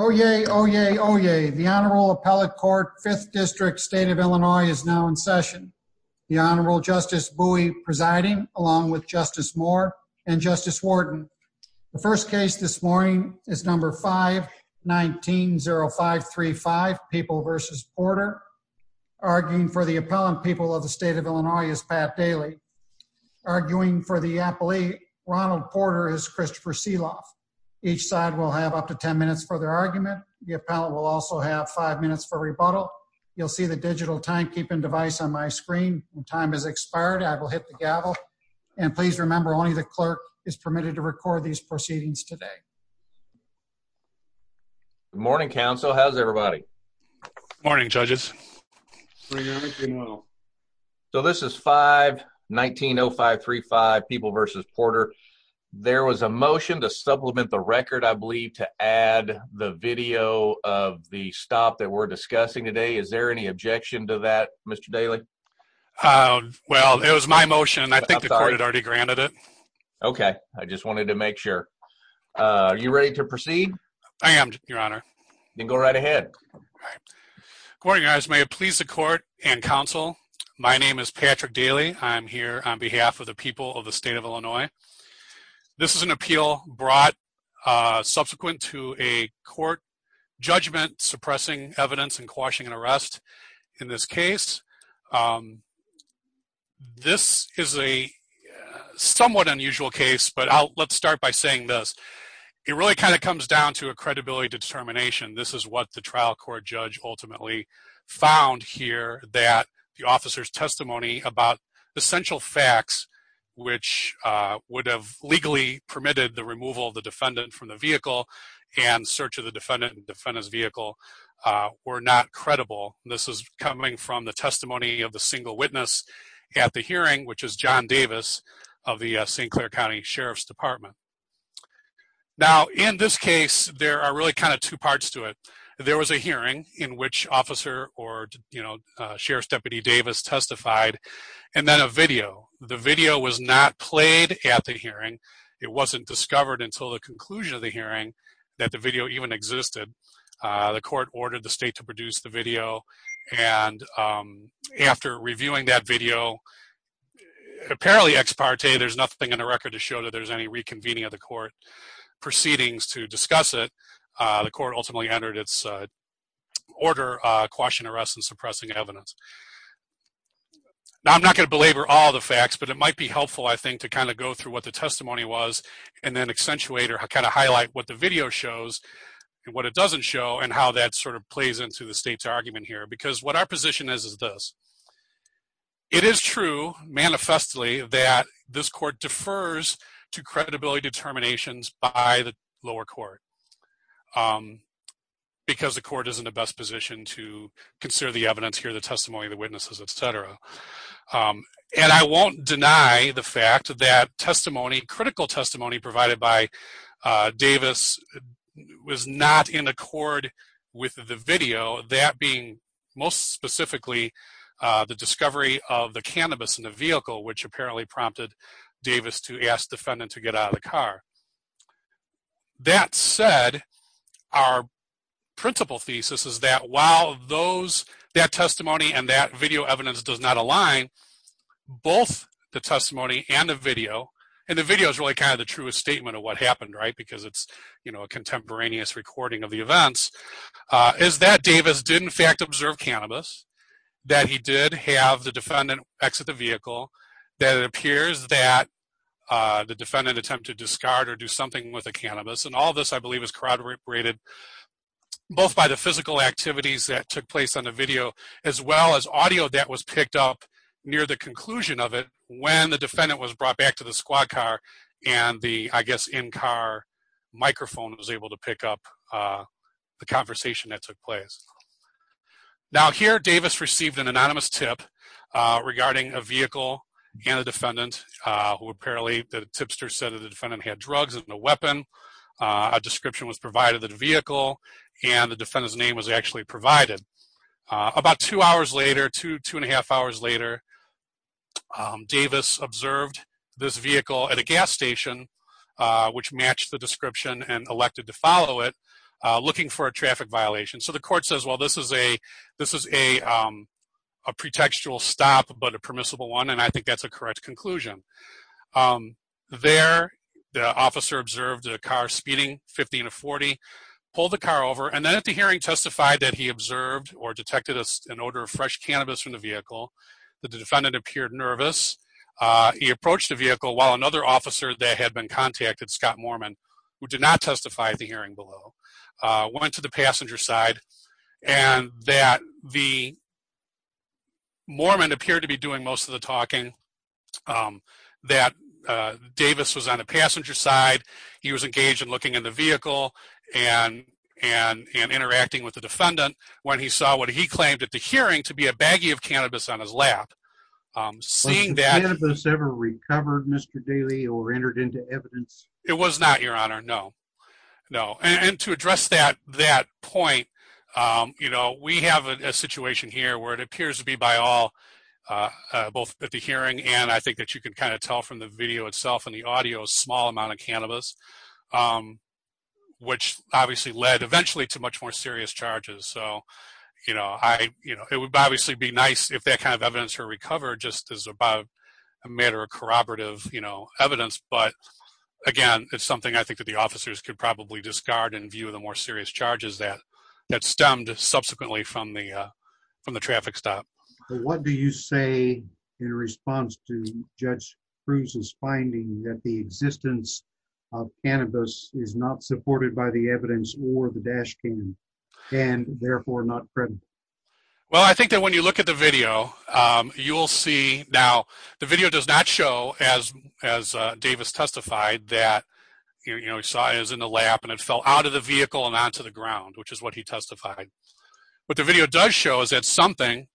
Oh, yay. Oh, yay. Oh, yay. The Honorable Appellate Court, 5th District, State of Illinois is now in session. The Honorable Justice Bowie presiding, along with Justice Moore and Justice Wharton. The first case this morning is number 519-0535, People v. Porter. Arguing for the appellant currently, Ronald Porter is Christopher Seeloff. Each side will have up to 10 minutes for their argument. The appellant will also have 5 minutes for rebuttal. You'll see the digital timekeeping device on my screen. When time has expired, I will hit the gavel. And please remember only the clerk is permitted to record these proceedings today. Good morning, council. How's everybody? Morning, judges. So this is 519-0535, People v. Porter. There was a motion to supplement the record, I believe, to add the video of the stop that we're discussing today. Is there any objection to that, Mr. Daly? Well, it was my motion. I think the court had already granted it. Okay. I just wanted to make sure. Are you ready to proceed? I am, Your Honor. Then go right ahead. Good morning, guys. May it please the court and council, my name is Patrick Daly. I'm here on behalf of the people of the state of Illinois. This is an appeal brought subsequent to a court judgment suppressing evidence and quashing an arrest in this case. This is a somewhat unusual case, but let's start by saying this. It really kind of comes down to a credibility determination. This is what the trial court judge ultimately found here that the officer's testimony about essential facts, which would have legally permitted the removal of the defendant from the vehicle and search of the defendant and defendant's vehicle were not credible. This is coming from the testimony of the single witness at the hearing, which is John Davis of the St. Clair County Sheriff's Department. Now, in this case, there are really kind of two parts to it. There was a hearing in which officer or, you know, Sheriff's Deputy Davis testified, and then a video. The video was not played at the hearing. It wasn't discovered until the conclusion of the hearing that the video even existed. The court ordered the state to produce the video. And after reviewing that video, apparently ex parte, there's nothing in the record to show that there's any reconvening of the court proceedings to discuss it. The court ultimately entered its order quashing arrests and suppressing evidence. Now, I'm not going to belabor all the facts, but it might be helpful, I think, to kind of go through what the testimony was and then accentuate or kind of highlight what the video shows and what it doesn't show and how that sort of plays into the state's argument here. Because what our position is, is this. It is true, manifestly, that this court defers to credibility determinations by the lower court. Because the court is in the best position to consider the evidence here, the testimony, the witnesses, etc. And I won't deny the fact that testimony, critical testimony provided by Davis, was not in accord with the video. That being, most specifically, the discovery of the cannabis in the vehicle, which apparently prompted Davis to ask the defendant to get out of the car. That said, our principal thesis is that while that testimony and that video evidence does not align, both the testimony and the video, and the video is really kind of a true statement of what happened, right, because it's a contemporaneous recording of the events, is that Davis did, in fact, observe cannabis, that he did have the defendant exit the vehicle, that it appears that the defendant attempted to discard or do something with the cannabis. And all of this, I believe, is corroborated both by the physical activities that took place on the video, as well as audio that was picked up near the conclusion of when the defendant was brought back to the squad car, and the, I guess, in-car microphone was able to pick up the conversation that took place. Now, here, Davis received an anonymous tip regarding a vehicle and a defendant, who apparently, the tipster said that the defendant had drugs and a weapon. A description was provided of the vehicle, and the defendant's was actually provided. About two hours later, two and a half hours later, Davis observed this vehicle at a gas station, which matched the description and elected to follow it, looking for a traffic violation. So, the court says, well, this is a pretextual stop, but a permissible one, and I think that's a correct conclusion. There, the officer observed the car speeding, 15 to 40, pulled the car over, and then, at the hearing, testified that he observed or detected an odor of fresh cannabis from the vehicle. The defendant appeared nervous. He approached the vehicle, while another officer that had been contacted, Scott Mormon, who did not testify at the hearing below, went to the passenger side, and that the Mormon appeared to be doing most of the talking, that Davis was on the passenger side, he was engaged in looking at the vehicle, and interacting with the defendant, when he saw what he claimed at the hearing to be a baggie of cannabis on his lap. Seeing that... Has cannabis ever recovered, Mr. Daly, or entered into evidence? It was not, Your Honor, no. No, and to address that point, you know, we have a situation here, where it appears to be, by all, both at the hearing, and I think that you can kind of tell from the video itself, and the audio, a small amount of cannabis, which obviously led, eventually, to much more serious charges. So, you know, it would obviously be nice if that kind of evidence were recovered, just as a matter of corroborative, you know, evidence, but again, it's something I think that the officers could probably discard, in view of the more serious charges that stemmed that the existence of cannabis is not supported by the evidence, or the dash cam, and therefore, not credible. Well, I think that when you look at the video, you will see... Now, the video does not show, as Davis testified, that, you know, he saw it was in the lap, and it fell out of the vehicle, and onto the ground, which is what he testified. What the video does show, is that something,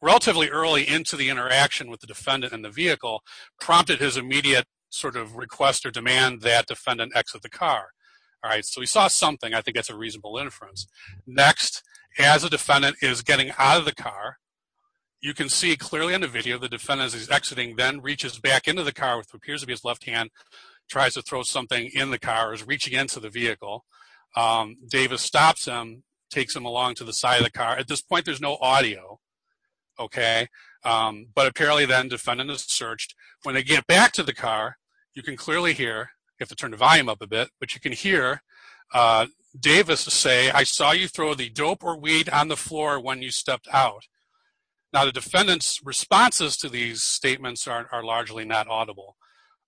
relatively early into the interaction with the defendant in the vehicle, prompted his immediate, sort of, request, or demand that defendant exit the car. All right, so he saw something, I think that's a reasonable inference. Next, as a defendant is getting out of the car, you can see clearly in the video, the defendant is exiting, then reaches back into the car, which appears to be his left hand, tries to throw something in the car, is reaching into the vehicle. Davis stops him, takes him along to the side of the car. At this point, there's no audio, okay, but apparently, then, defendant is searched. When they get back to the car, you can clearly hear, you have to turn the volume up a bit, but you can hear Davis say, I saw you throw the dope or weed on the floor when you stepped out. Now, the defendant's responses to these statements are largely not audible,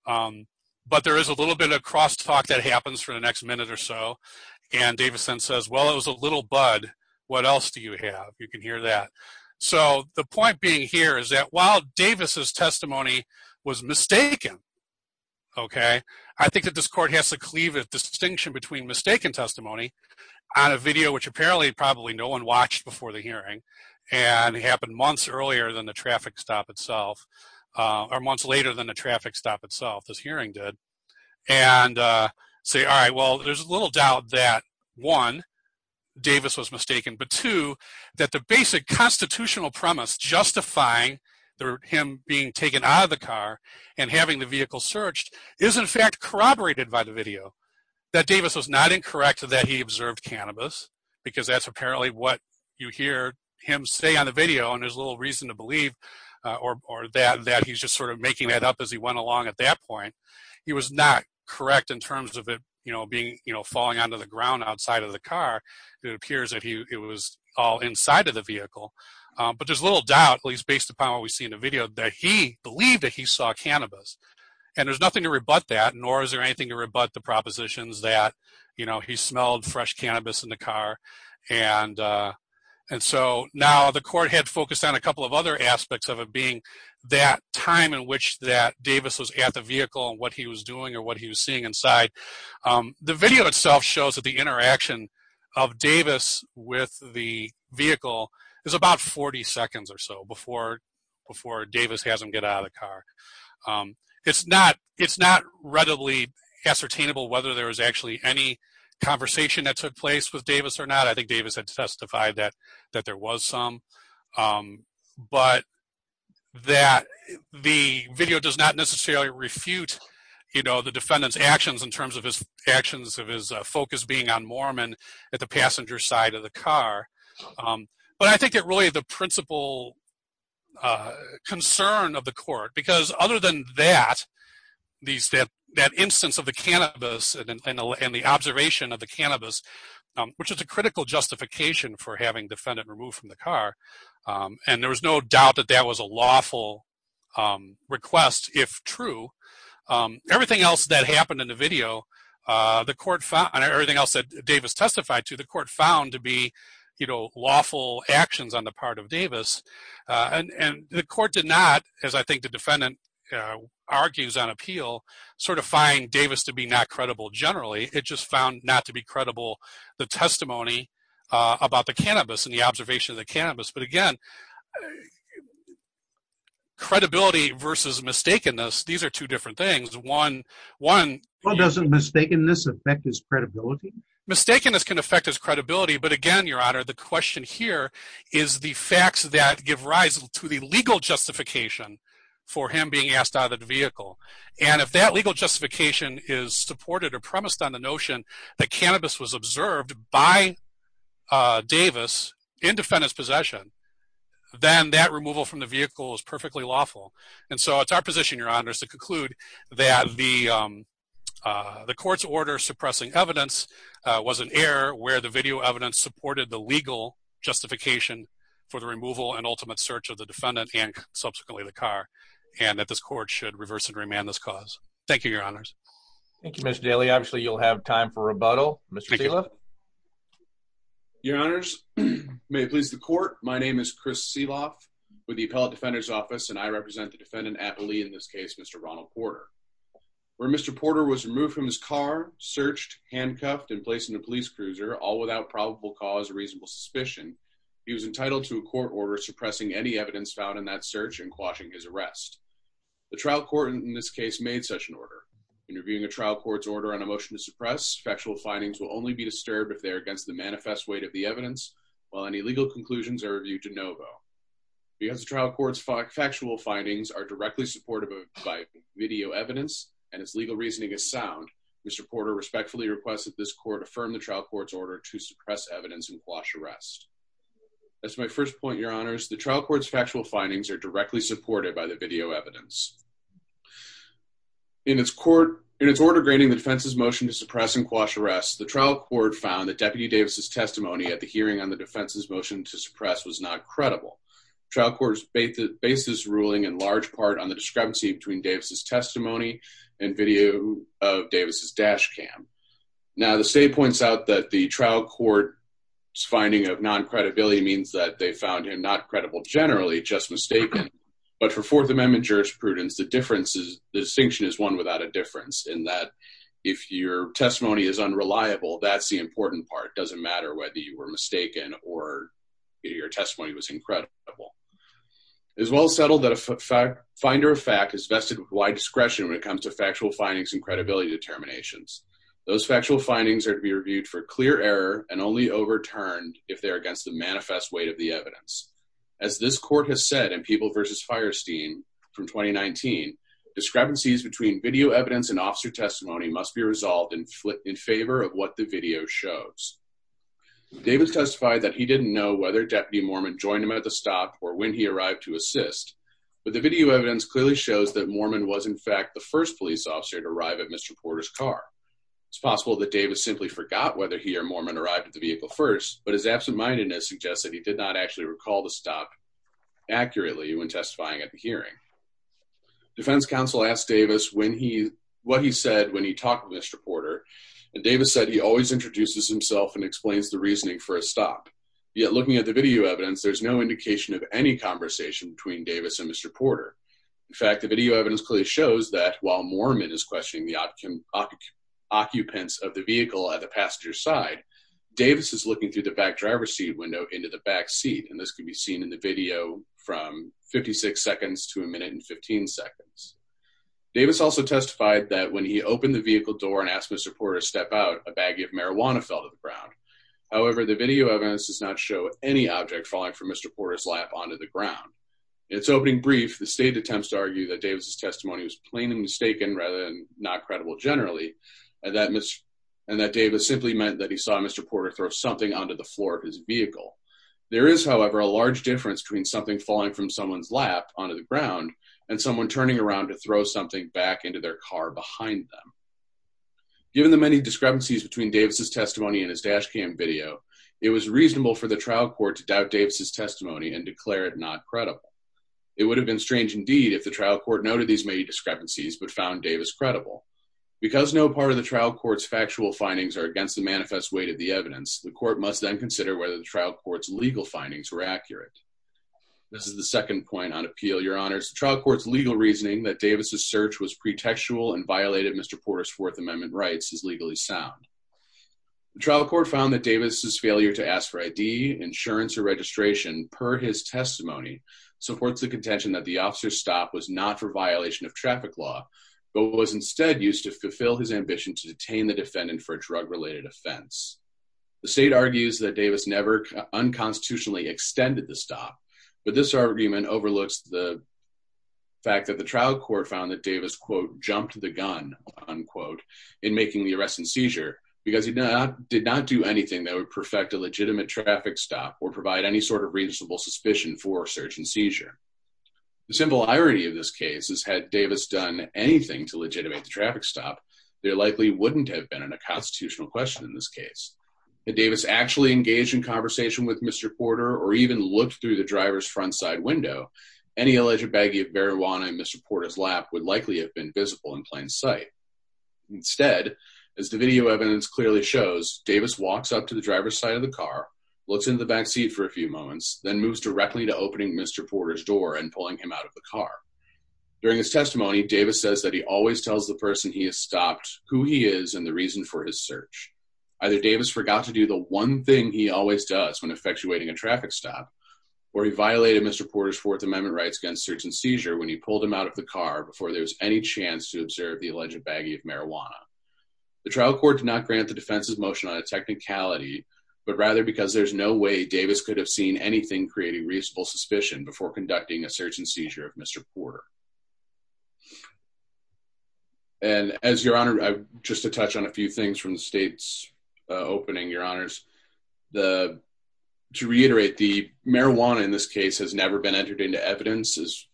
but there is a little bit of cross-talk that happens for the next minute or so, and Davis then says, well, it was a little bud, what else do you have? You can hear that. The point being here is that while Davis' testimony was mistaken, I think that this court has to cleave a distinction between mistaken testimony on a video, which apparently, probably no one watched before the hearing, and it happened months earlier than the traffic stop itself, or months later than the traffic stop itself, this hearing did, and say, all right, well, there's a little doubt that, one, Davis was mistaken, but, two, that the basic constitutional premise justifying him being taken out of the car and having the vehicle searched is, in fact, corroborated by the video, that Davis was not incorrect that he observed cannabis, because that's apparently what you hear him say on the video, and there's a little reason to believe, or that he's just sort of making that up as he went along at that point. He was not correct in terms of it, you know, falling onto the ground outside of the car. It appears that it was all inside of the vehicle, but there's little doubt, at least based upon what we see in the video, that he believed that he saw cannabis, and there's nothing to rebut that, nor is there anything to rebut the propositions that, you know, he smelled fresh cannabis in the car, and so now the court had focused on a couple of other aspects of it being that time in which that Davis was at the vehicle and what he was doing or what he was seeing inside. The video itself shows that the interaction of Davis with the vehicle is about 40 seconds or so before Davis has him get out of the car. It's not readily ascertainable whether there was actually any conversation that took place with Davis or not. I think Davis had testified that there was some, but that the video does not necessarily refute, you know, the defendant's actions in terms of his actions of his focus being on Moorman at the passenger side of the car, but I think that really the principal concern of the court, because other than that, that instance of the cannabis and the observation of the cannabis, which is a critical justification for having defendant removed from the car, and there was no doubt that that was a lawful request, if true. Everything else that happened in the video, everything else that Davis testified to, the court found to be, you know, lawful actions on the part of Davis, and the court did not, as I think the defendant argues on appeal, sort of find Davis to be not credible generally. It just found not to be credible, the testimony about the cannabis and the observation of the cannabis. But again, credibility versus mistakenness, these are two different things. One, well, doesn't mistakenness affect his credibility? Mistakenness can affect his credibility, but again, Your Honor, the question here is the facts that give rise to the legal justification for him being asked out of the vehicle. And if that legal justification is supported or premised on the notion that cannabis was observed by Davis in defendant's possession, then that removal from the vehicle is perfectly lawful. And so it's our position, Your Honor, is to conclude that the court's order suppressing evidence was an error where the video evidence supported the legal justification for the removal and ultimate search of the defendant, and subsequently the car, and that this court should reverse and remand this cause. Thank you, Your Honors. Thank you, Mr. Daly. Obviously, you'll have time for rebuttal, Mr. Seeloff. Your Honors, may it please the court, my name is Chris Seeloff with the Appellate Defender's Office, and I represent the defendant, aptly in this case, Mr. Ronald Porter. Where Mr. Porter was removed from his car, searched, handcuffed, and placed in a police cruiser, all without probable cause or reasonable suspicion, he was entitled to a court suppressing any evidence found in that search and quashing his arrest. The trial court, in this case, made such an order. In reviewing a trial court's order on a motion to suppress, factual findings will only be disturbed if they are against the manifest weight of the evidence, while any legal conclusions are reviewed de novo. Because the trial court's factual findings are directly supported by video evidence, and its legal reasoning is sound, Mr. Porter respectfully requests that this court affirm the trial court's order to suppress evidence and quash arrest. As my first point, Your Honors, the trial court's factual findings are directly supported by the video evidence. In its court, in its order grading the defense's motion to suppress and quash arrest, the trial court found that Deputy Davis's testimony at the hearing on the defense's motion to suppress was not credible. Trial court's basis ruling in large part on the discrepancy between Davis's testimony and video of Davis's dash cam. Now, the state points out that the trial court's finding of non-credibility means that they found him not credible generally, just mistaken. But for Fourth Amendment jurisprudence, the distinction is one without a difference, in that if your testimony is unreliable, that's the important part. It doesn't matter whether you were mistaken or your testimony was incredible. It is well settled that a finder of fact is vested with wide discretion when it comes to factual findings and credibility determinations. Those factual findings are to be reviewed for clear error and only overturned if they are against the manifest weight of the evidence. As this court has said in People v. Firesteam from 2019, discrepancies between video evidence and officer testimony must be resolved in favor of what the video shows. Davis testified that he didn't know whether Deputy Mormon joined him at the stop or when he arrived to assist, but the video evidence clearly shows that Mormon was, in fact, the first police officer to arrive at Mr. Porter's car. It's possible that Davis simply forgot whether he or Mormon arrived at the vehicle first, but his absentmindedness suggests that he did not actually recall the stop accurately when testifying at the hearing. Defense counsel asked Davis what he said when he talked with Mr. Porter, and Davis said he always introduces himself and explains the reasoning for a stop. Yet looking at the video evidence, there's no indication of any conversation between Davis and Mr. Porter. In fact, the video evidence clearly shows that while Mormon is questioning the occupants of the vehicle at the passenger side, Davis is looking through the back driver's seat window into the back seat, and this can be seen in the video from 56 seconds to a minute and 15 seconds. Davis also testified that when he opened the vehicle door and asked Mr. Porter to step out, a baggie of marijuana fell to the ground. However, the video evidence does not any object falling from Mr. Porter's lap onto the ground. In its opening brief, the state attempts to argue that Davis's testimony was plain and mistaken rather than not credible generally, and that Davis simply meant that he saw Mr. Porter throw something onto the floor of his vehicle. There is, however, a large difference between something falling from someone's lap onto the ground and someone turning around to throw something back into their car behind them. Given the many discrepancies between Davis's testimony and his dash cam video, it was reasonable for the trial court to doubt Davis's testimony and declare it not credible. It would have been strange indeed if the trial court noted these many discrepancies but found Davis credible. Because no part of the trial court's factual findings are against the manifest weight of the evidence, the court must then consider whether the trial court's legal findings were accurate. This is the second point on appeal, your honors. The trial court's legal reasoning that Davis's search was pretextual and violated Mr. Porter's Fourth Amendment rights is legally sound. The trial court found that Davis's failure to ask for ID, insurance, or registration per his testimony supports the contention that the officer's stop was not for violation of traffic law but was instead used to fulfill his ambition to detain the defendant for a drug-related offense. The state argues that Davis never unconstitutionally extended the stop, but this argument overlooks the fact that the trial court found that Davis, quote, the arrest and seizure because he did not do anything that would perfect a legitimate traffic stop or provide any sort of reasonable suspicion for search and seizure. The simple irony of this case is had Davis done anything to legitimate the traffic stop, there likely wouldn't have been a constitutional question in this case. Had Davis actually engaged in conversation with Mr. Porter or even looked through the driver's front side window, any alleged baggie of marijuana in Mr. Porter's lap would likely have been visible in plain sight. Instead, as the video evidence clearly shows, Davis walks up to the driver's side of the car, looks into the back seat for a few moments, then moves directly to opening Mr. Porter's door and pulling him out of the car. During his testimony, Davis says that he always tells the person he has stopped who he is and the reason for his search. Either Davis forgot to do the one thing he always does when effectuating a traffic stop or he violated Mr. Porter's Fourth Amendment rights against search and seizure when he pulled him out of the car before there was any chance to marijuana. The trial court did not grant the defense's motion on a technicality, but rather because there's no way Davis could have seen anything creating reasonable suspicion before conducting a search and seizure of Mr. Porter. And as your honor, just to touch on a few things from the state's opening, your honors, the to reiterate the marijuana in this case has never been entered into evidence as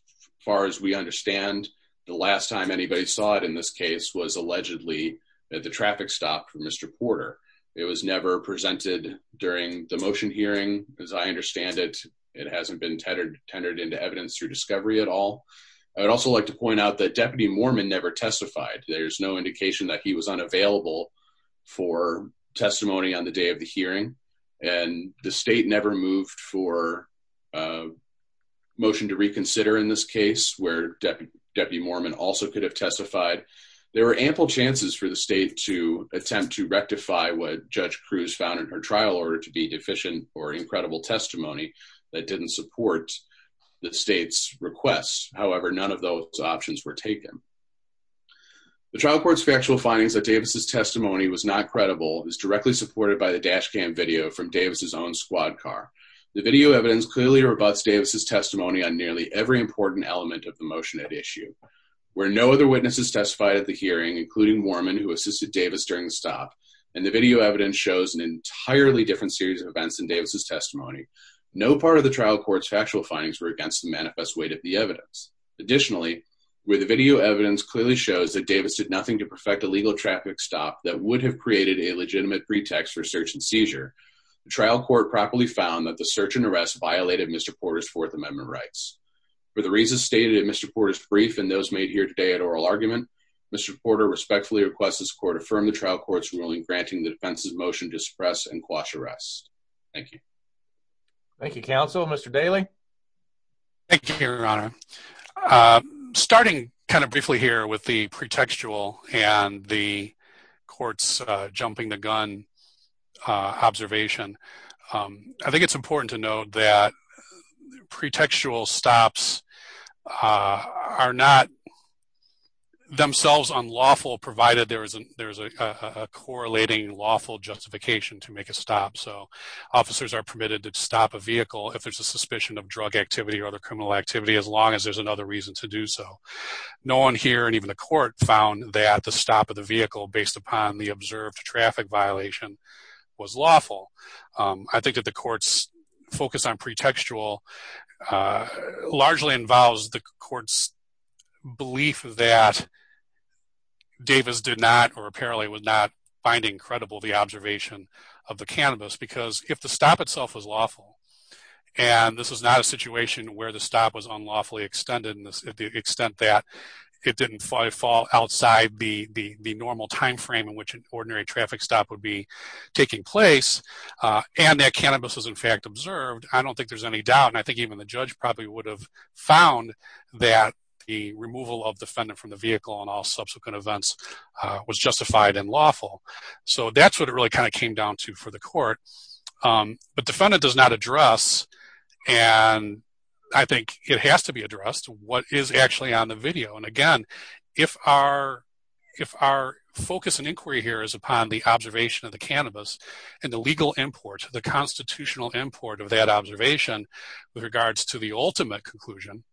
far as we understand. The last time anybody saw it in this case was allegedly that the traffic stopped for Mr. Porter. It was never presented during the motion hearing. As I understand it, it hasn't been tenored into evidence through discovery at all. I would also like to point out that Deputy Mormon never testified. There's no indication that he was unavailable for testimony on the day of the hearing and the state never moved for a motion to reconsider in this case where Deputy Mormon also could have testified. There were ample chances for the state to attempt to rectify what Judge Cruz found in her trial order to be deficient or incredible testimony that didn't support the state's requests. However, none of those options were taken. The trial court's factual findings that Davis's testimony was not credible is directly supported by the dash cam video from Davis's own squad car. The video evidence clearly rebuts testimony on nearly every important element of the motion at issue. Where no other witnesses testified at the hearing, including Mormon, who assisted Davis during the stop, and the video evidence shows an entirely different series of events in Davis's testimony, no part of the trial court's factual findings were against the manifest weight of the evidence. Additionally, where the video evidence clearly shows that Davis did nothing to perfect a legal traffic stop that would have created a legitimate pretext for search and seizure, the trial court properly found that the search and arrest violated Mr. Porter's Fourth Amendment rights. For the reasons stated in Mr. Porter's brief and those made here today at oral argument, Mr. Porter respectfully requests this court affirm the trial court's ruling granting the defense's motion to suppress and quash arrests. Thank you. Thank you, counsel. Mr. Daly? Thank you, your honor. Starting kind of briefly here with the pretextual and the court's jumping the gun observation, I think it's important to note that pretextual stops are not themselves unlawful, provided there is a correlating lawful justification to make a stop. So officers are permitted to stop a vehicle if there's a suspicion of drug activity or other criminal activity, as long as there's another reason to do so. No one here and even the court found that the stop of the vehicle based upon the observed traffic violation was lawful. I think that the court's focus on pretextual largely involves the court's belief that Davis did not or apparently was not finding credible the observation of the cannabis because if the stop itself was lawful and this is not a situation where the stop was unlawfully extended to the extent that it didn't fall outside the normal time frame in which an ordinary traffic stop would be taking place and that cannabis was in fact observed, I don't think there's any doubt and I think even the judge probably would have found that the removal of defendant from the vehicle and all subsequent events was justified and lawful. So that's what it really kind of came down to for the court. But defendant does not I think it has to be addressed what is actually on the video and again if our focus and inquiry here is upon the observation of the cannabis and the legal import the constitutional import of that observation with regards to the ultimate conclusion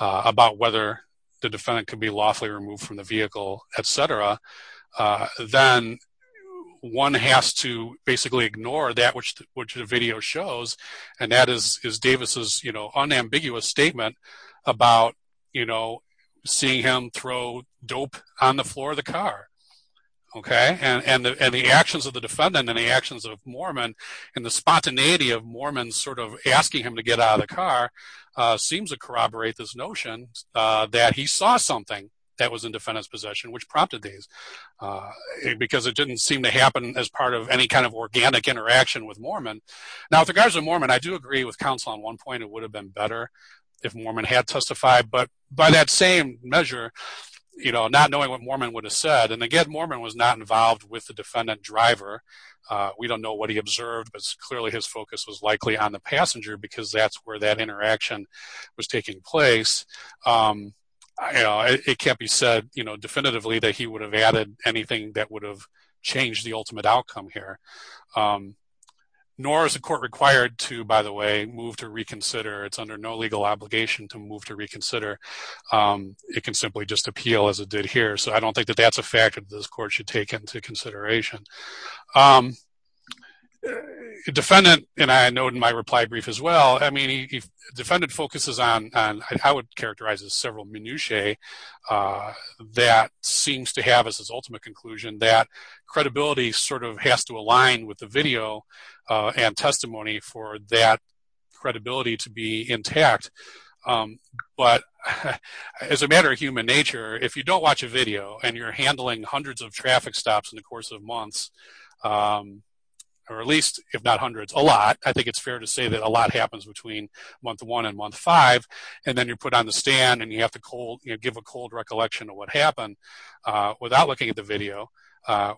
about whether the defendant could be lawfully removed from the vehicle etc. Then one has to basically ignore that which the video shows and that is Davis's you know unambiguous statement about you know seeing him throw dope on the floor of the car. Okay and the actions of the defendant and the actions of Mormon and the spontaneity of Mormon sort of asking him to get out of the car seems to corroborate this notion that he saw something that was in defendant's possession which prompted these because it didn't seem to happen as part of any kind of organic interaction with Mormon. Now with regards to Mormon I do agree with counsel on one point it would have been better if Mormon had testified but by that same measure you know not knowing what Mormon would have said and again Mormon was not involved with the defendant driver. We don't know what he observed but clearly his focus was likely on the passenger because that's where that interaction was taking place. You know it can't be said you know definitively that he would have added anything that would have changed the ultimate outcome here nor is the court required to by the way move to reconsider it's under no legal obligation to move to reconsider. It can simply just appeal as it did here so I don't think that that's a fact that this court should take into consideration. Defendant and I know in my reply brief as well I mean if defendant focuses on on how it characterizes several minutiae that seems to have as his ultimate conclusion that credibility sort of has to align with the video and testimony for that credibility to be intact but as a matter of human nature if you don't watch a video and you're handling hundreds of traffic stops in the course of months or at least if not hundreds a lot I think it's fair to say that a lot happens between month one and month five and then you're put on the stand and you have to cold give a cold recollection of what happened without looking at the video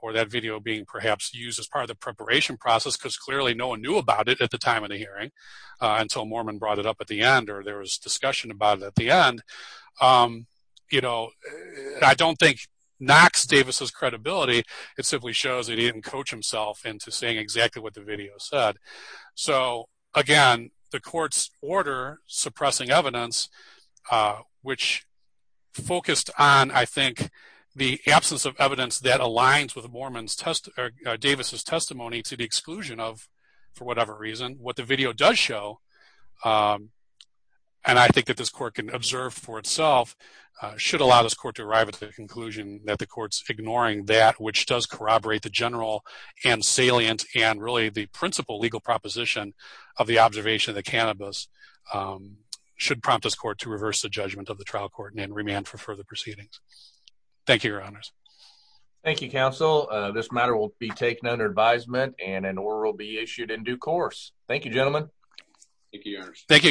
or that video being perhaps used as part of the preparation process because clearly no one knew about it at the time of the hearing until Mormon brought it up at the end or there was discussion about it at the end. You know I don't think knocks Davis's credibility it simply shows that he didn't coach himself into saying exactly what the video said so again the court's order suppressing evidence which focused on I think the absence of evidence that aligns with the Mormon's test or Davis's testimony to the exclusion of for whatever reason what the video does show and I think that this court can observe for itself should allow this court to arrive at the conclusion that the court's ignoring that which does corroborate the general and salient and really the principle legal proposition of the observation that cannabis should prompt this court to reverse the judgment of the trial court and remand for further proceedings. Thank you your honors. Thank you counsel this matter will be taken under advisement and an order will be issued in due course. Thank you gentlemen. Thank you your honors. Thank you your honors.